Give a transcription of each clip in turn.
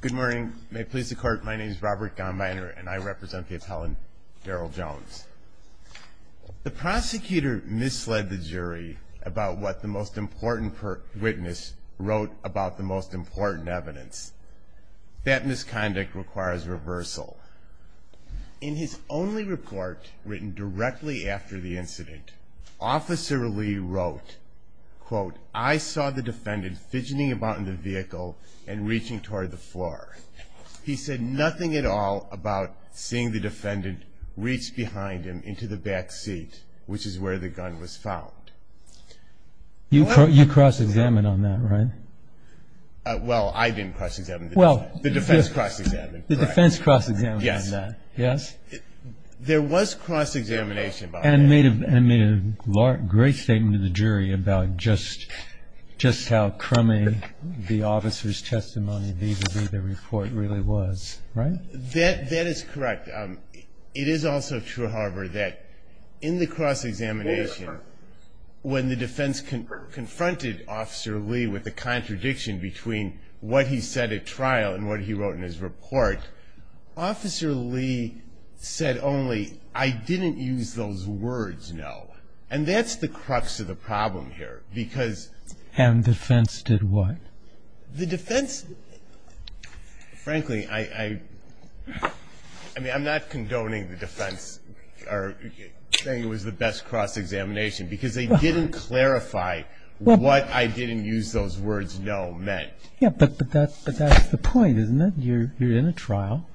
Good morning. May it please the court, my name is Robert Gahnmeyer and I represent the appellant Darrell Jones. The prosecutor misled the jury about what the most important witness wrote about the most important evidence. That misconduct requires reversal. In his only report written directly after the incident, Officer Lee wrote, quote, I saw the defendant fidgeting about in the vehicle and reaching toward the floor. He said nothing at all about seeing the defendant reach behind him into the back seat, which is where the gun was found. You cross-examined on that, right? Well, I didn't cross-examine. The defense cross-examined. The defense cross-examined on that, yes. There was cross-examination about that. And made a great statement to the jury about just how crummy the officer's testimony vis-à-vis the report really was, right? That is correct. It is also true, however, that in the cross-examination, when the defense confronted Officer Lee with the contradiction between what he said at trial and what he wrote in his report, Officer Lee said only, I didn't use those words, no. And that's the crux of the problem here. And the defense did what? The defense, frankly, I'm not condoning the defense or saying it was the best cross-examination, because they didn't clarify what I didn't use those words no meant. Yeah, but that's the point, isn't it? You're in a trial.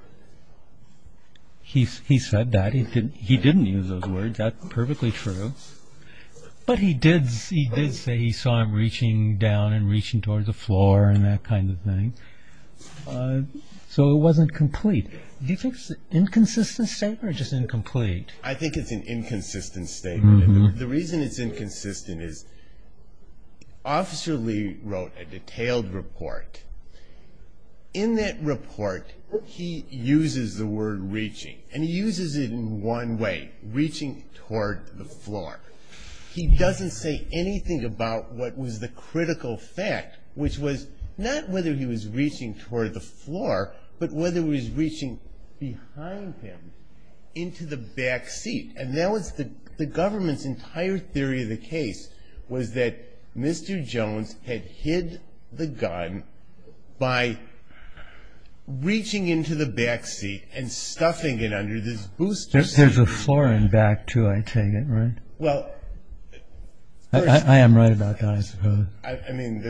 He said that. He didn't use those words. That's perfectly true. But he did say he saw him reaching down and reaching towards the floor and that kind of thing. So it wasn't complete. Do you think it's an inconsistent statement or just incomplete? I think it's an inconsistent statement. The reason it's inconsistent is Officer Lee wrote a detailed report. In that report, he uses the word reaching, and he uses it in one way, reaching toward the floor. He doesn't say anything about what was the critical fact, which was not whether he was reaching toward the floor, but whether he was reaching behind him into the back seat. And that was the government's entire theory of the case, was that Mr. Jones had hid the gun by reaching into the back seat and stuffing it under this booster seat. There's a floor in back, too, I take it, right? Well, of course. I am right about that, I suppose. I mean,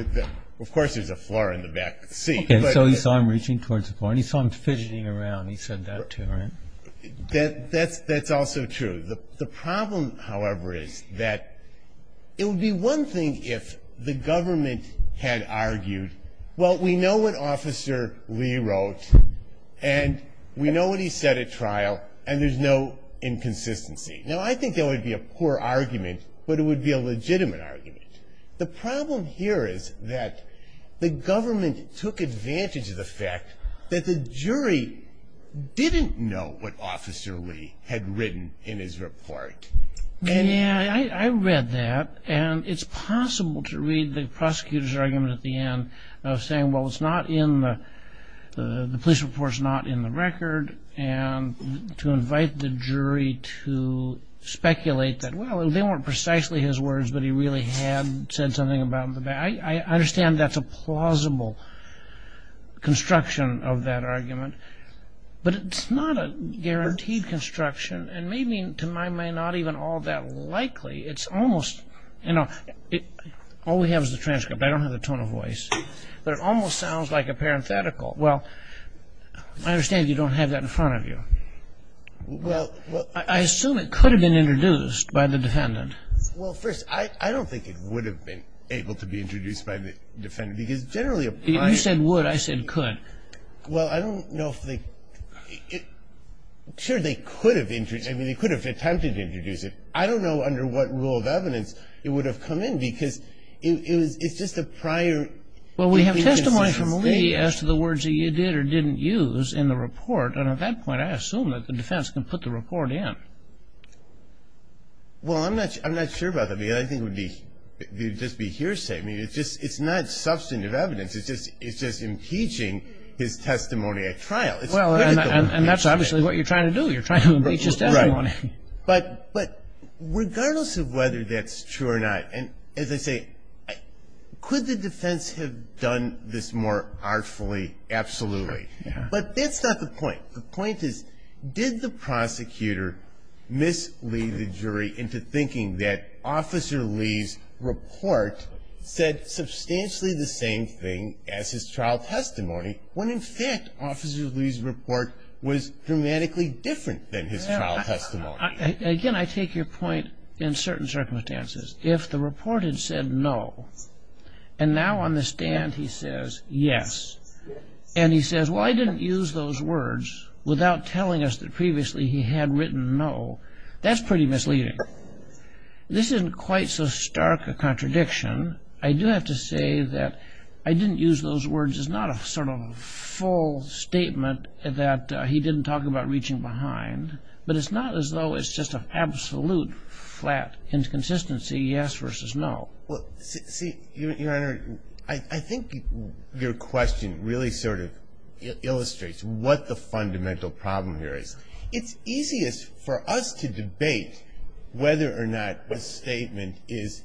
of course there's a floor in the back seat. Okay, so he saw him reaching towards the floor, and he saw him fidgeting around. He said that, too, right? That's also true. The problem, however, is that it would be one thing if the government had argued, well, we know what Officer Lee wrote, and we know what he said at trial, and there's no inconsistency. Now, I think that would be a poor argument, but it would be a legitimate argument. The problem here is that the government took advantage of the fact that the jury didn't know what Officer Lee had written in his report. Yeah, I read that, and it's possible to read the prosecutor's argument at the end of saying, well, the police report's not in the record, and to invite the jury to speculate that, well, they weren't precisely his words, but he really had said something about the back. I understand that's a plausible construction of that argument, but it's not a guaranteed construction, and maybe, to my mind, not even all that likely. It's almost, you know, all we have is the transcript. I don't have the tone of voice, but it almost sounds like a parenthetical. Well, I understand you don't have that in front of you. I assume it could have been introduced by the defendant. Well, first, I don't think it would have been able to be introduced by the defendant, because generally a prior... You said would. I said could. Well, I don't know if they... Sure, they could have... I mean, they could have attempted to introduce it. I don't know under what rule of evidence it would have come in, because it's just a prior... Well, we have testimony from Lee as to the words that you did or didn't use in the report, and at that point, I assume that the defense can put the report in. Well, I'm not sure about that, because I think it would just be hearsay. I mean, it's not substantive evidence. It's just impeaching his testimony at trial. Well, and that's obviously what you're trying to do. You're trying to impeach his testimony. But regardless of whether that's true or not, and as I say, could the defense have done this more artfully? Absolutely. But that's not the point. The point is, did the prosecutor mislead the jury into thinking that Officer Lee's report said substantially the same thing as his trial testimony, when in fact Officer Lee's report was dramatically different than his trial testimony? Again, I take your point in certain circumstances. If the report had said no, and now on the stand he says yes, and he says, well, I didn't use those words, without telling us that previously he had written no, that's pretty misleading. This isn't quite so stark a contradiction. I do have to say that I didn't use those words is not a sort of full statement that he didn't talk about reaching behind, but it's not as though it's just an absolute flat inconsistency, yes versus no. Well, see, Your Honor, I think your question really sort of illustrates what the fundamental problem here is. It's easiest for us to debate whether or not the statement is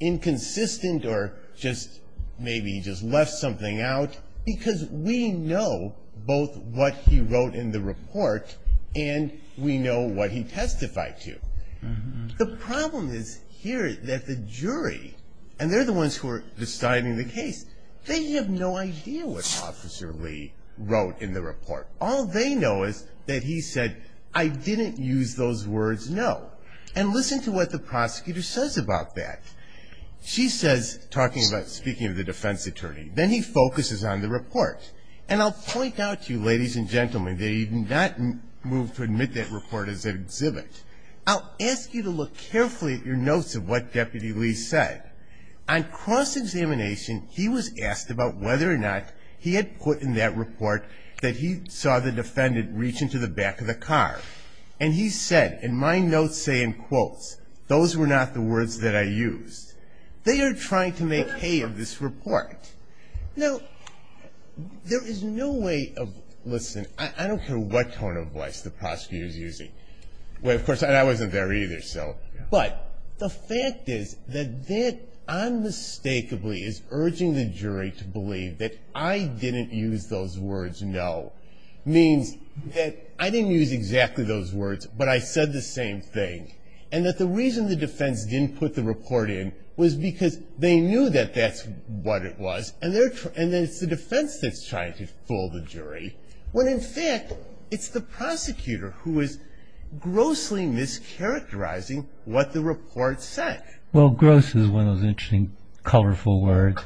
inconsistent or just maybe he just left something out, because we know both what he wrote in the report and we know what he testified to. The problem is here that the jury, and they're the ones who are deciding the case, they have no idea what Officer Lee wrote in the report. All they know is that he said, I didn't use those words, no. And listen to what the prosecutor says about that. She says, speaking of the defense attorney, then he focuses on the report. I'll ask you to look carefully at your notes of what Deputy Lee said. On cross-examination, he was asked about whether or not he had put in that report that he saw the defendant reach into the back of the car. And he said, and my notes say in quotes, those were not the words that I used. They are trying to make hay of this report. Now, there is no way of, listen, I don't care what tone of voice the prosecutor is using. Well, of course, and I wasn't there either, so. But the fact is that that unmistakably is urging the jury to believe that I didn't use those words, no, means that I didn't use exactly those words, but I said the same thing, and that the reason the defense didn't put the report in was because they knew that that's what it was, and then it's the defense that's trying to fool the jury, when in fact it's the prosecutor who is grossly mischaracterizing what the report said. Well, gross is one of those interesting, colorful words.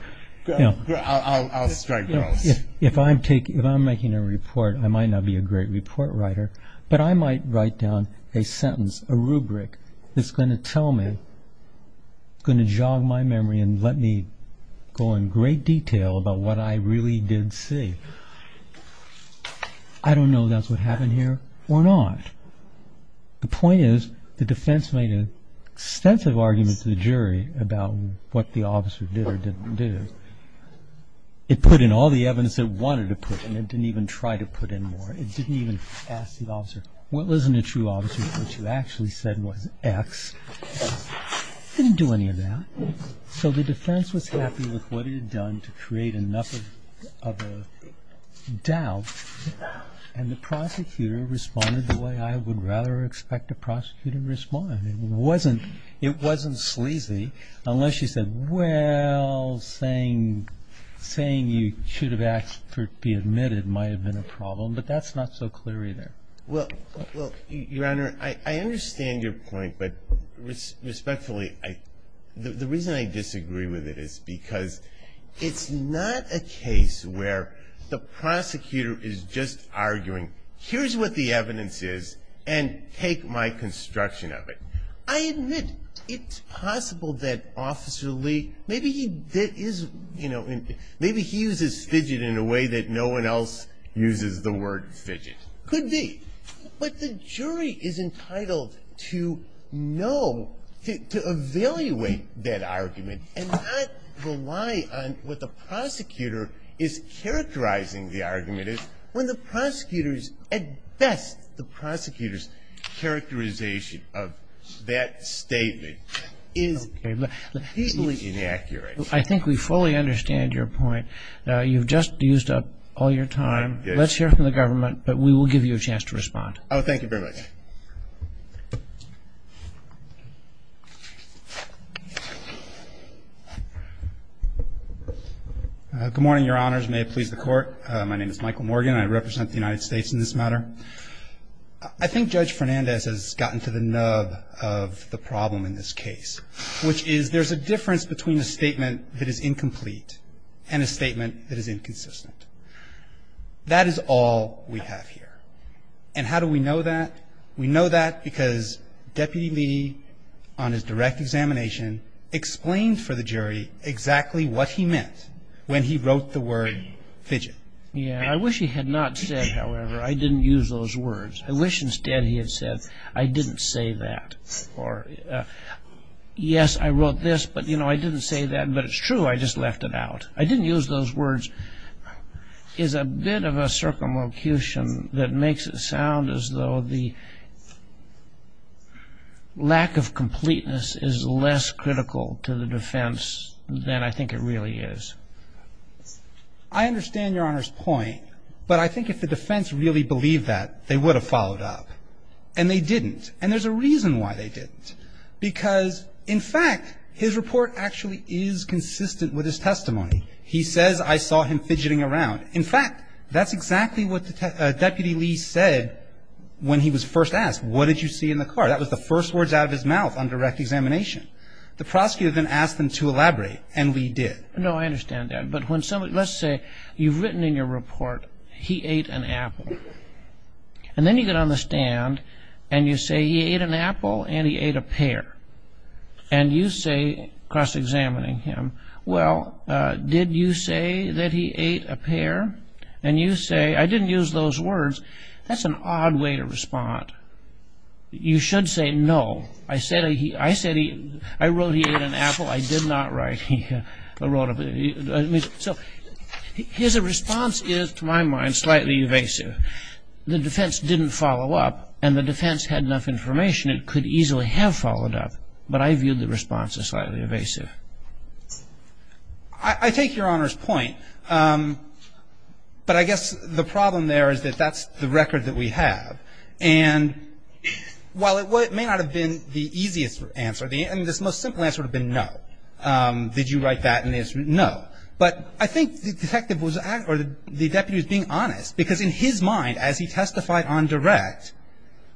I'll strike gross. If I'm making a report, I might not be a great report writer, but I might write down a sentence, a rubric, that's going to tell me, going to jog my memory and let me go in great detail about what I really did see. I don't know if that's what happened here or not. The point is the defense made an extensive argument to the jury about what the officer did or didn't do. It put in all the evidence it wanted to put in. It didn't even try to put in more. It didn't even ask the officer, well, isn't it true, officer, that what you actually said was X? It didn't do any of that. So the defense was happy with what it had done to create enough of a doubt, and the prosecutor responded the way I would rather expect a prosecutor to respond. It wasn't sleazy unless you said, well, saying you should have asked for it to be admitted might have been a problem, but that's not so clear either. Well, Your Honor, I understand your point, but respectfully, the reason I disagree with it is because it's not a case where the prosecutor is just arguing, here's what the evidence is, and take my construction of it. I admit it's possible that Officer Lee, maybe he uses fidget in a way that no one else uses the word fidget. It could be. But the jury is entitled to know, to evaluate that argument and not rely on what the prosecutor is characterizing the argument is when the prosecutor's, at best, the prosecutor's characterization of that statement is completely inaccurate. I think we fully understand your point. You've just used up all your time. Let's hear from the government. But we will give you a chance to respond. Oh, thank you very much. Good morning, Your Honors. May it please the Court. My name is Michael Morgan. I represent the United States in this matter. I think Judge Fernandez has gotten to the nub of the problem in this case, which is there's a difference between a statement that is incomplete and a statement that is inconsistent. That is all we have here. And how do we know that? We know that because Deputy Lee, on his direct examination, explained for the jury exactly what he meant when he wrote the word fidget. Yeah. I wish he had not said, however, I didn't use those words. I wish instead he had said, I didn't say that. Or, yes, I wrote this, but, you know, I didn't say that. But it's true. I just left it out. I think that the lack of completeness, I didn't use those words, is a bit of a circumlocution that makes it sound as though the lack of completeness is less critical to the defense than I think it really is. I understand Your Honor's point. But I think if the defense really believed that, they would have followed up. And they didn't. And there's a reason why they didn't. Because, in fact, his report actually is consistent with his testimony. He says, I saw him fidgeting around. In fact, that's exactly what Deputy Lee said when he was first asked, what did you see in the car? That was the first words out of his mouth on direct examination. The prosecutor then asked him to elaborate, and Lee did. No, I understand that. But when somebody, let's say you've written in your report, he ate an apple. And then you get on the stand, and you say, he ate an apple, and he ate a pear. And you say, cross-examining him, well, did you say that he ate a pear? And you say, I didn't use those words. That's an odd way to respond. You should say, no. I wrote he ate an apple. I did not write he wrote a pear. So his response is, to my mind, slightly evasive. The defense didn't follow up, and the defense had enough information, it could easily have followed up. But I viewed the response as slightly evasive. I take Your Honor's point. But I guess the problem there is that that's the record that we have. And while it may not have been the easiest answer, I mean, the most simple answer would have been no. Did you write that in the answer? No. But I think the detective was, or the deputy was being honest. Because in his mind, as he testified on direct,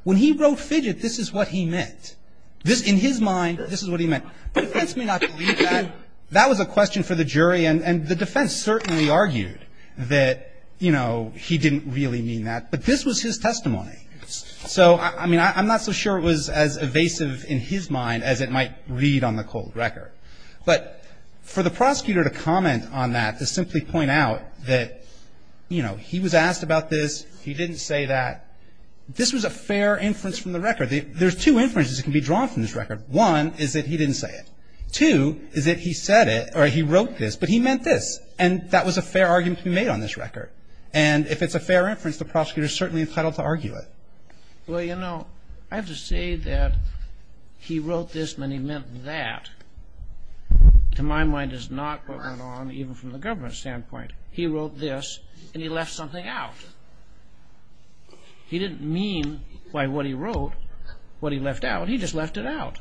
when he wrote fidget, this is what he meant. In his mind, this is what he meant. The defense may not believe that. That was a question for the jury, and the defense certainly argued that, you know, he didn't really mean that. But this was his testimony. So, I mean, I'm not so sure it was as evasive in his mind as it might read on the cold record. But for the prosecutor to comment on that, to simply point out that, you know, he was asked about this, he didn't say that, this was a fair inference from the record. There's two inferences that can be drawn from this record. One is that he didn't say it. Two is that he said it, or he wrote this, but he meant this. And that was a fair argument to be made on this record. And if it's a fair inference, the prosecutor is certainly entitled to argue it. Well, you know, I have to say that he wrote this and he meant that, to my mind, is not what went on even from the government standpoint. He wrote this, and he left something out. He didn't mean by what he wrote what he left out. He just left it out.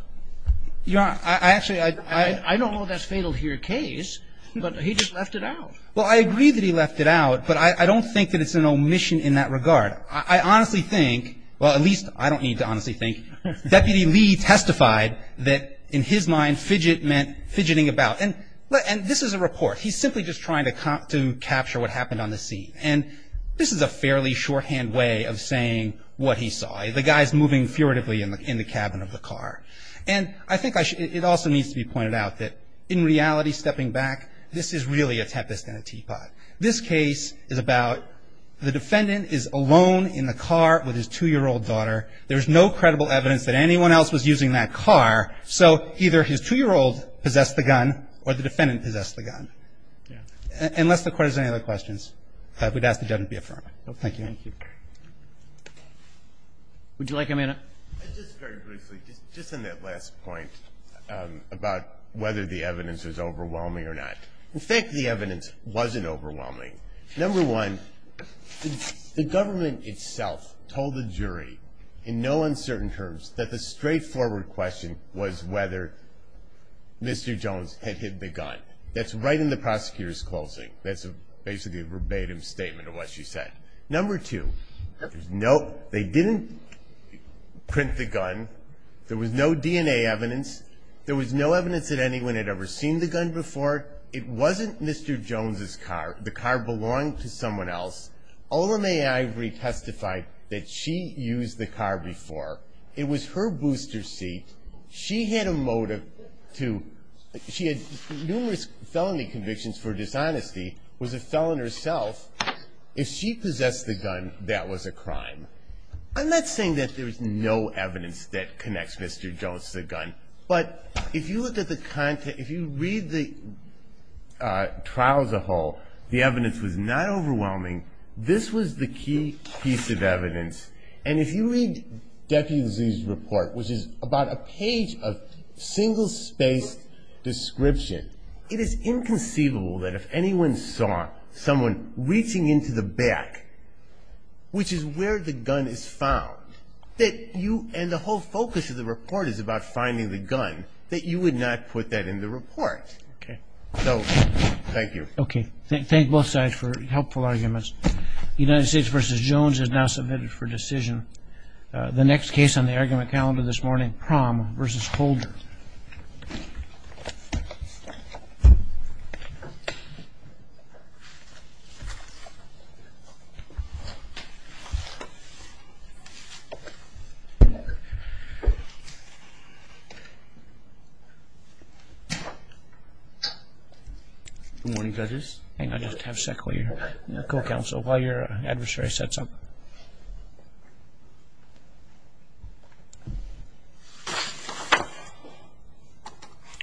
I don't know if that's fatal to your case, but he just left it out. Well, I agree that he left it out, but I don't think that it's an omission in that regard. I honestly think, well, at least I don't need to honestly think, Deputy Lee testified that, in his mind, fidget meant fidgeting about. And this is a report. He's simply just trying to capture what happened on the scene. And this is a fairly shorthand way of saying what he saw. The guy's moving furtively in the cabin of the car. And I think it also needs to be pointed out that, in reality, stepping back, this is really a tepest and a teapot. This case is about the defendant is alone in the car with his 2-year-old daughter. There's no credible evidence that anyone else was using that car, so either his 2-year-old possessed the gun or the defendant possessed the gun. Unless the Court has any other questions, I would ask the judge to be affirmed. Thank you. Roberts. Would you like a minute? Just very briefly, just on that last point about whether the evidence was overwhelming or not. In fact, the evidence wasn't overwhelming. Number one, the government itself told the jury, in no uncertain terms, that the straightforward question was whether Mr. Jones had hit the gun. That's right in the prosecutor's closing. That's basically a verbatim statement of what she said. Number two, they didn't print the gun. There was no DNA evidence. There was no evidence that anyone had ever seen the gun before. It wasn't Mr. Jones' car. The car belonged to someone else. Ola Mae Ivory testified that she used the car before. It was her booster seat. She had a motive to ñ she had numerous felony convictions for dishonesty, was a felon herself. If she possessed the gun, that was a crime. I'm not saying that there's no evidence that connects Mr. Jones to the gun. But if you look at the content, if you read the trial as a whole, the evidence was not overwhelming. This was the key piece of evidence. And if you read Deputy's report, which is about a page of single-spaced description, it is inconceivable that if anyone saw someone reaching into the back, which is where the gun is found, that you ñ and the whole focus of the report is about finding the gun, that you would not put that in the report. Okay. So thank you. Okay. Thank both sides for helpful arguments. United States v. Jones has now submitted for decision the next case on the argument calendar this morning, criminal prom v. Holder. Good morning, judges. Hang on just a second while your co-counsel, while your adversary sets up.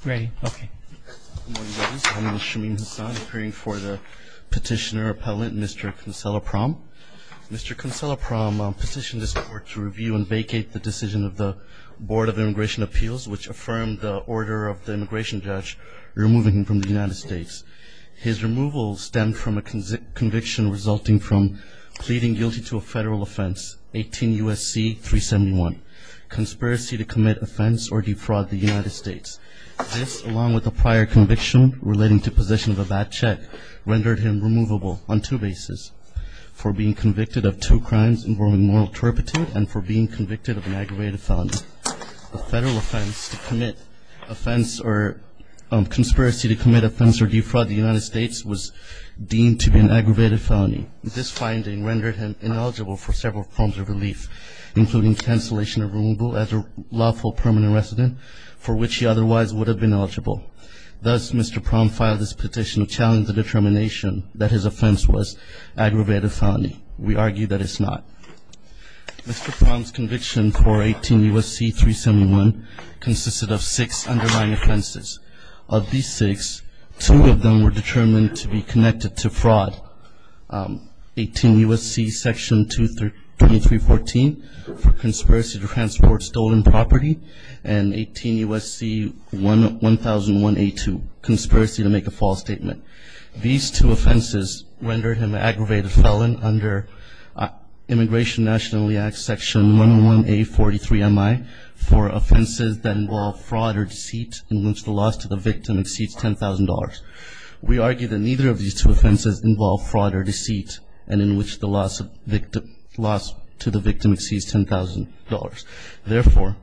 Ready? Okay. Good morning, judges. My name is Shamim Hassan, appearing for the petitioner appellate, Mr. Consolaprom. Mr. Consolaprom petitioned this court to review and vacate the decision of the Board of Immigration Appeals, which affirmed the order of the immigration judge removing him from the United States. His removal stemmed from a conviction resulting from pleading guilty to a federal offense, 18 U.S.C. 371, conspiracy to commit offense or defraud the United States. This, along with a prior conviction relating to possession of a bad check, rendered him removable on two bases, for being convicted of two crimes involving moral turpitude and for being convicted of an aggravated felony. A federal offense to commit offense or conspiracy to commit offense or defraud the United States was deemed to be an aggravated felony. This finding rendered him ineligible for several forms of relief, including cancellation of removal as a lawful permanent resident, for which he otherwise would have been eligible. Thus, Mr. Prom filed this petition to challenge the determination that his offense was aggravated felony. We argue that it's not. Mr. Prom's conviction for 18 U.S.C. 371 consisted of six underlying offenses. Of these six, two of them were determined to be connected to fraud, 18 U.S.C. Section 2314, for conspiracy to transport stolen property, and 18 U.S.C. 1001A2, conspiracy to make a false statement. These two offenses rendered him an aggravated felon under Immigration Nationally Act Section 111A43MI for offenses that involve fraud or deceit in which the loss to the victim exceeds $10,000. We argue that neither of these two offenses involve fraud or deceit, and in which the loss to the victim exceeds $10,000. Therefore,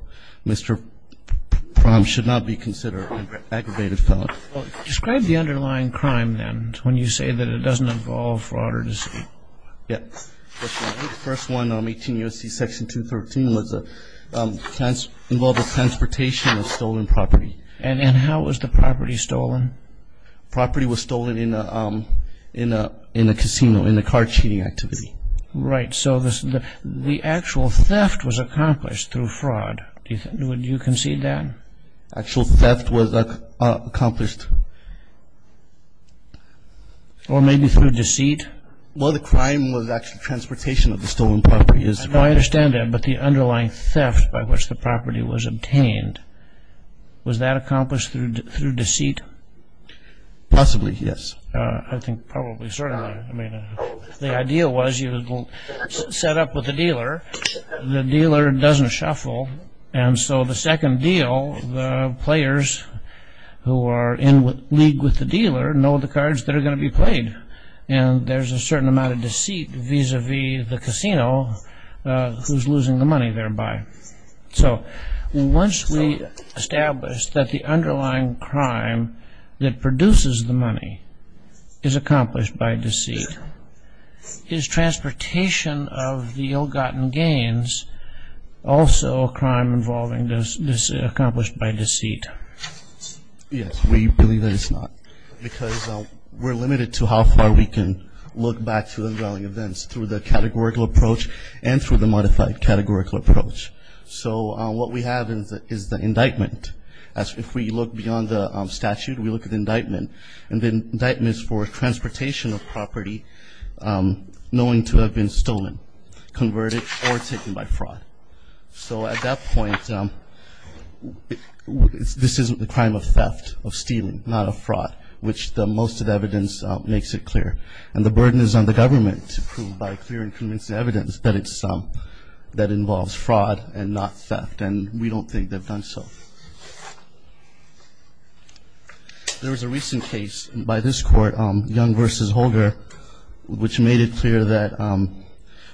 Mr. Prom should not be considered an aggravated felon. Describe the underlying crime, then, when you say that it doesn't involve fraud or deceit. Yes. The first one, 18 U.S.C. Section 213, involved the transportation of stolen property. And how was the property stolen? The property was stolen in a casino, in a car cheating activity. Right. So the actual theft was accomplished through fraud. Would you concede that? The actual theft was accomplished. Or maybe through deceit? Well, the crime was actually transportation of the stolen property. I understand that, but the underlying theft by which the property was obtained, was that accomplished through deceit? Possibly, yes. I think probably, certainly. The idea was you set up with the dealer, the dealer doesn't shuffle, and so the second deal, the players who are in league with the dealer, know the cards that are going to be played. And there's a certain amount of deceit vis-à-vis the casino, who's losing the money thereby. So once we establish that the underlying crime that produces the money is accomplished by deceit, is transportation of the ill-gotten gains also a crime accomplished by deceit? Yes, we believe that it's not. Because we're limited to how far we can look back to the underlying events, through the categorical approach and through the modified categorical approach. So what we have is the indictment. If we look beyond the statute, we look at the indictment. And the indictment is for transportation of property knowing to have been stolen, converted, or taken by fraud. So at that point, this isn't the crime of theft, of stealing, not of fraud, which most of the evidence makes it clear. And the burden is on the government to prove by clear and convincing evidence that it's some that involves fraud and not theft. And we don't think they've done so. There was a recent case by this court, Young v. Holger, which made it clear that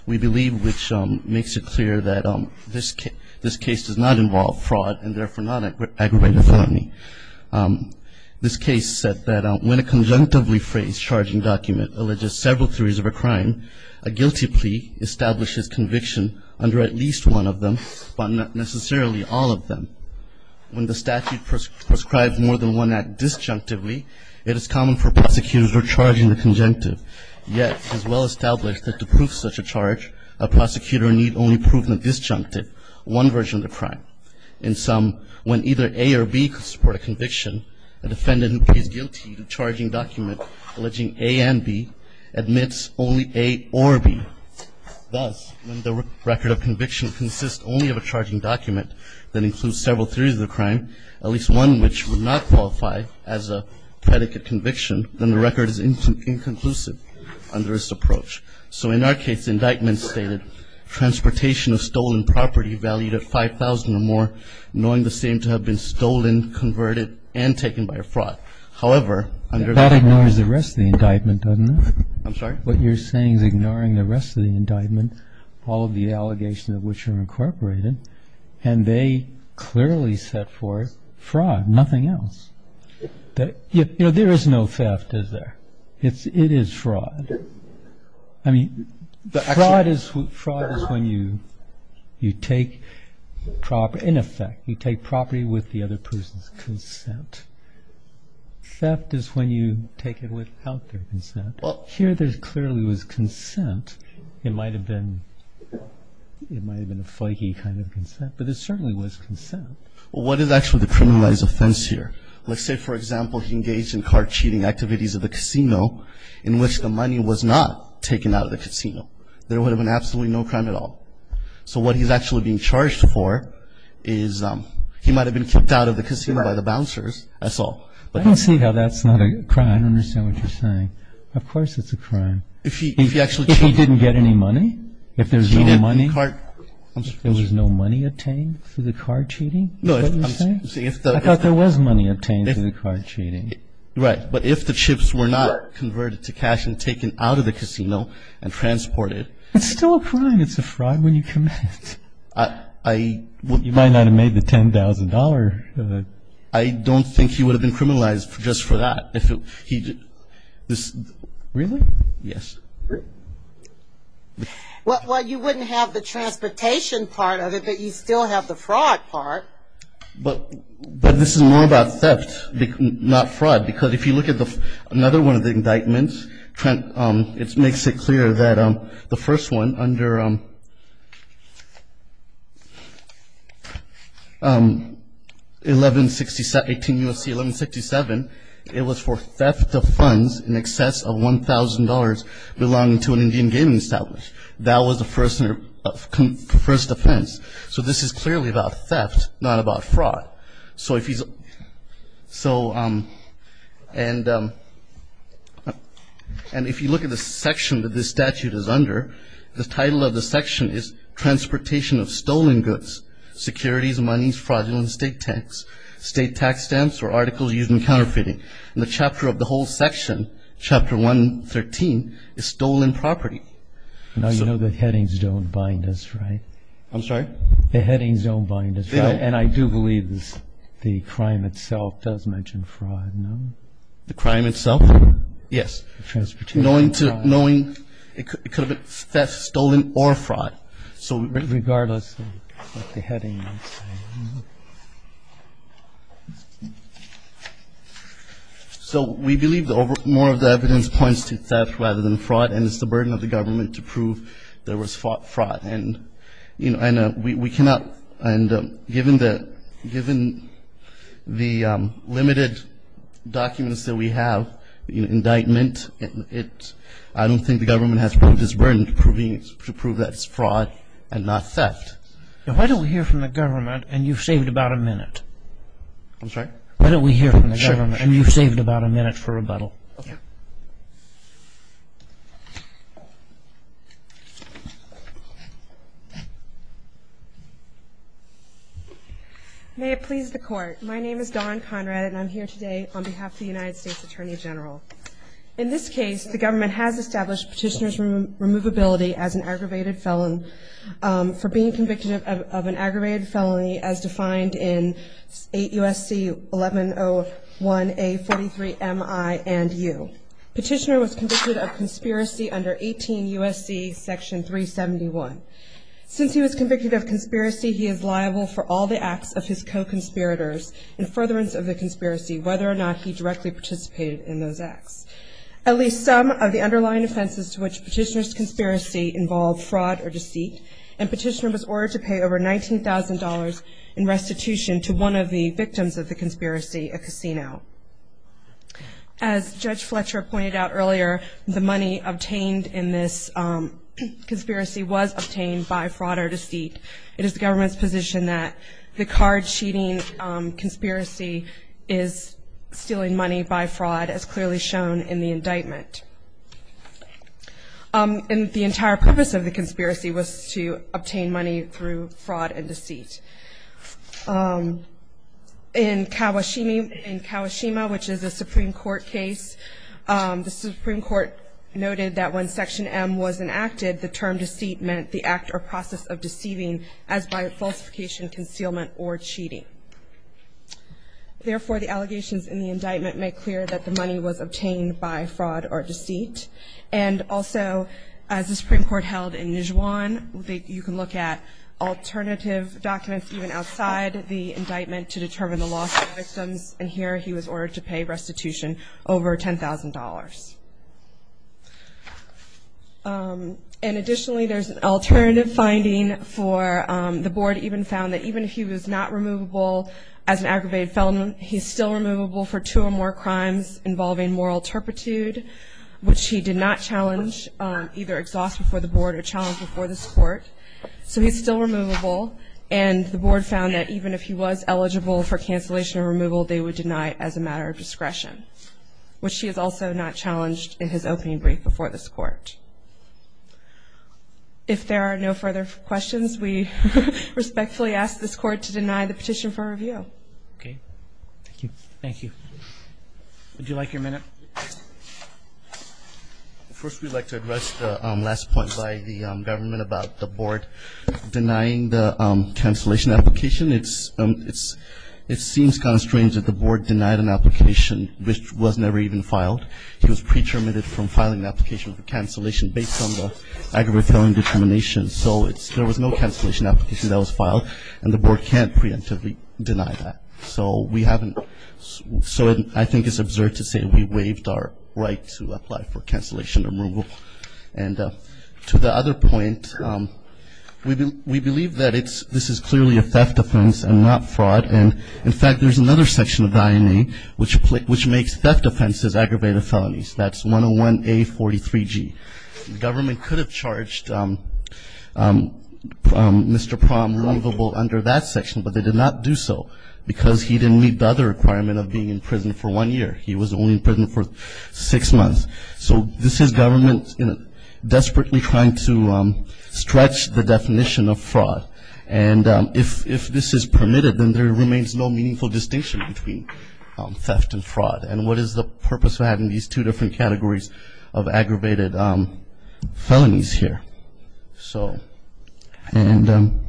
we believe which makes it clear that this case does not involve fraud and therefore not aggravated felony. This case said that when a conjunctively phrased charging document alleges several theories of a crime, a guilty plea establishes conviction under at least one of them, but not necessarily all of them. When the statute prescribes more than one act disjunctively, it is common for prosecutors who are charging the conjunctive. Yet it is well established that to prove such a charge, a prosecutor need only prove the disjunctive, one version of the crime. In sum, when either A or B could support a conviction, a defendant who pleads guilty to charging document alleging A and B admits only A or B. Thus, when the record of conviction consists only of a charging document that includes several theories of the crime, at least one which would not qualify as a predicate conviction, then the record is inconclusive under this approach. So in our case, indictment stated, transportation of stolen property valued at $5,000 or more, knowing the same to have been stolen, converted, and taken by a fraud. However, under the ---- That ignores the rest of the indictment, doesn't it? I'm sorry? What you're saying is ignoring the rest of the indictment, all of the allegations of which are incorporated, and they clearly set forth fraud, nothing else. You know, there is no theft, is there? It is fraud. I mean, fraud is when you take property, in effect, you take property with the other person's consent. Theft is when you take it without their consent. Here there clearly was consent. It might have been a flaky kind of consent, but there certainly was consent. Well, what is actually the criminalized offense here? Let's say, for example, he engaged in card cheating activities at the casino in which the money was not taken out of the casino. There would have been absolutely no crime at all. So what he's actually being charged for is he might have been kicked out of the casino by the bouncers, that's all. I don't see how that's not a crime. I don't understand what you're saying. Of course it's a crime. If he actually cheated. If he didn't get any money, if there's no money. He didn't get the card. There was no money obtained through the card cheating, is that what you're saying? I thought there was money obtained through the card cheating. Right. But if the chips were not converted to cash and taken out of the casino and transported. It's still a crime. It's a fraud when you commit it. You might not have made the $10,000. I don't think he would have been criminalized just for that. Really? Yes. Well, you wouldn't have the transportation part of it, but you still have the fraud part. But this is more about theft, not fraud. Because if you look at another one of the indictments, it makes it clear that the first one under 1167, 18 U.S.C. 1167, it was for theft of funds in excess of $1,000 belonging to an Indian gaming establishment. That was the first offense. So this is clearly about theft, not about fraud. And if you look at the section that this statute is under, the title of the section is Transportation of Stolen Goods, Securities, Monies, Fraudulent Estate Tax, State Tax Stamps or Articles Used in Counterfeiting. And the chapter of the whole section, Chapter 113, is stolen property. Now, you know the headings don't bind us, right? I'm sorry? The headings don't bind us, right? And I do believe the crime itself does mention fraud, no? The crime itself? Yes. Knowing it could have been theft, stolen, or fraud. Regardless of what the heading might say. So we believe more of the evidence points to theft rather than fraud, and it's the burden of the government to prove there was fraud. And given the limited documents that we have, indictment, I don't think the government has proved its burden to prove that it's fraud and not theft. Why don't we hear from the government, and you've saved about a minute. I'm sorry? Why don't we hear from the government, and you've saved about a minute for rebuttal. Okay. May it please the Court. My name is Dawn Conrad, and I'm here today on behalf of the United States Attorney General. In this case, the government has established Petitioner's removability as an aggravated felon for being convicted of an aggravated felony as defined in 8 U.S.C. 1101A43MI&U. Petitioner was convicted of conspiracy under 18 U.S.C. Section 371. Since he was convicted of conspiracy, he is liable for all the acts of his co-conspirators in furtherance of the conspiracy, whether or not he directly participated in those acts. At least some of the underlying offenses to which Petitioner's conspiracy involved fraud or deceit, and Petitioner was ordered to pay over $19,000 in restitution to one of the victims of the conspiracy, a casino. As Judge Fletcher pointed out earlier, the money obtained in this conspiracy was obtained by fraud or deceit. It is the government's position that the card-cheating conspiracy is stealing money by fraud, as clearly shown in the indictment. And the entire purpose of the conspiracy was to obtain money through fraud and deceit. In Kawashima, which is a Supreme Court case, the Supreme Court noted that when Section M was enacted, the term deceit meant the act or process of deceiving as by falsification, concealment, or cheating. Therefore, the allegations in the indictment make clear that the money was obtained by fraud or deceit. And also, as the Supreme Court held in Nijuan, you can look at alternative documents even outside the indictment to determine the loss of victims, and here he was ordered to pay restitution over $10,000. And additionally, there's an alternative finding for the board even found that even if he was not removable as an aggravated felon, he's still removable for two or more crimes involving moral turpitude, which he did not challenge, either exhaust before the board or challenge before this Court. So he's still removable. And the board found that even if he was eligible for cancellation or removal, they would deny it as a matter of discretion, which he has also not challenged in his opening brief before this Court. If there are no further questions, we respectfully ask this Court to deny the petition for review. Roberts. Thank you. Thank you. Would you like your minute? First, we'd like to address the last point by the government about the board denying the cancellation application. It seems kind of strange that the board denied an application which was never even filed. He was pre-terminated from filing an application for cancellation based on the aggravated felon determination. So there was no cancellation application that was filed, and the board can't preemptively deny that. So I think it's absurd to say we waived our right to apply for cancellation or removal. And to the other point, we believe that this is clearly a theft offense and not fraud. And, in fact, there's another section of the INA which makes theft offenses aggravated felonies. That's 101A43G. The government could have charged Mr. Prom removable under that section, but they did not do so because he didn't meet the other requirement of being in prison for one year. He was only in prison for six months. So this is government desperately trying to stretch the definition of fraud. And if this is permitted, then there remains no meaningful distinction between theft and fraud. And what is the purpose of having these two different categories of aggravated felonies here? So, and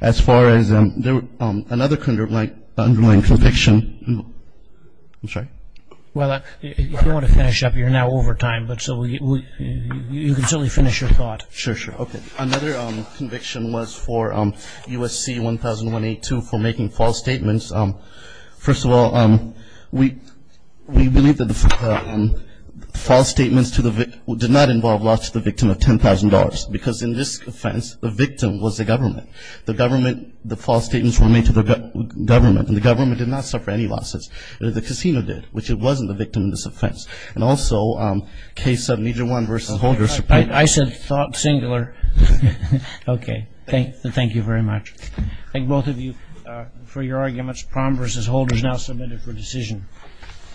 as far as another underlying conviction. I'm sorry. Well, if you want to finish up, you're now over time, but you can certainly finish your thought. Sure, sure. Okay. Another conviction was for USC 1001A2 for making false statements. First of all, we believe that the false statements did not involve loss to the victim of $10,000. Because in this offense, the victim was the government. The government, the false statements were made to the government. And the government did not suffer any losses. The casino did, which it wasn't the victim in this offense. And also, case 701 versus Holder. I said singular. Okay. Thank you very much. Thank both of you for your arguments. Prom versus Holder is now submitted for decision.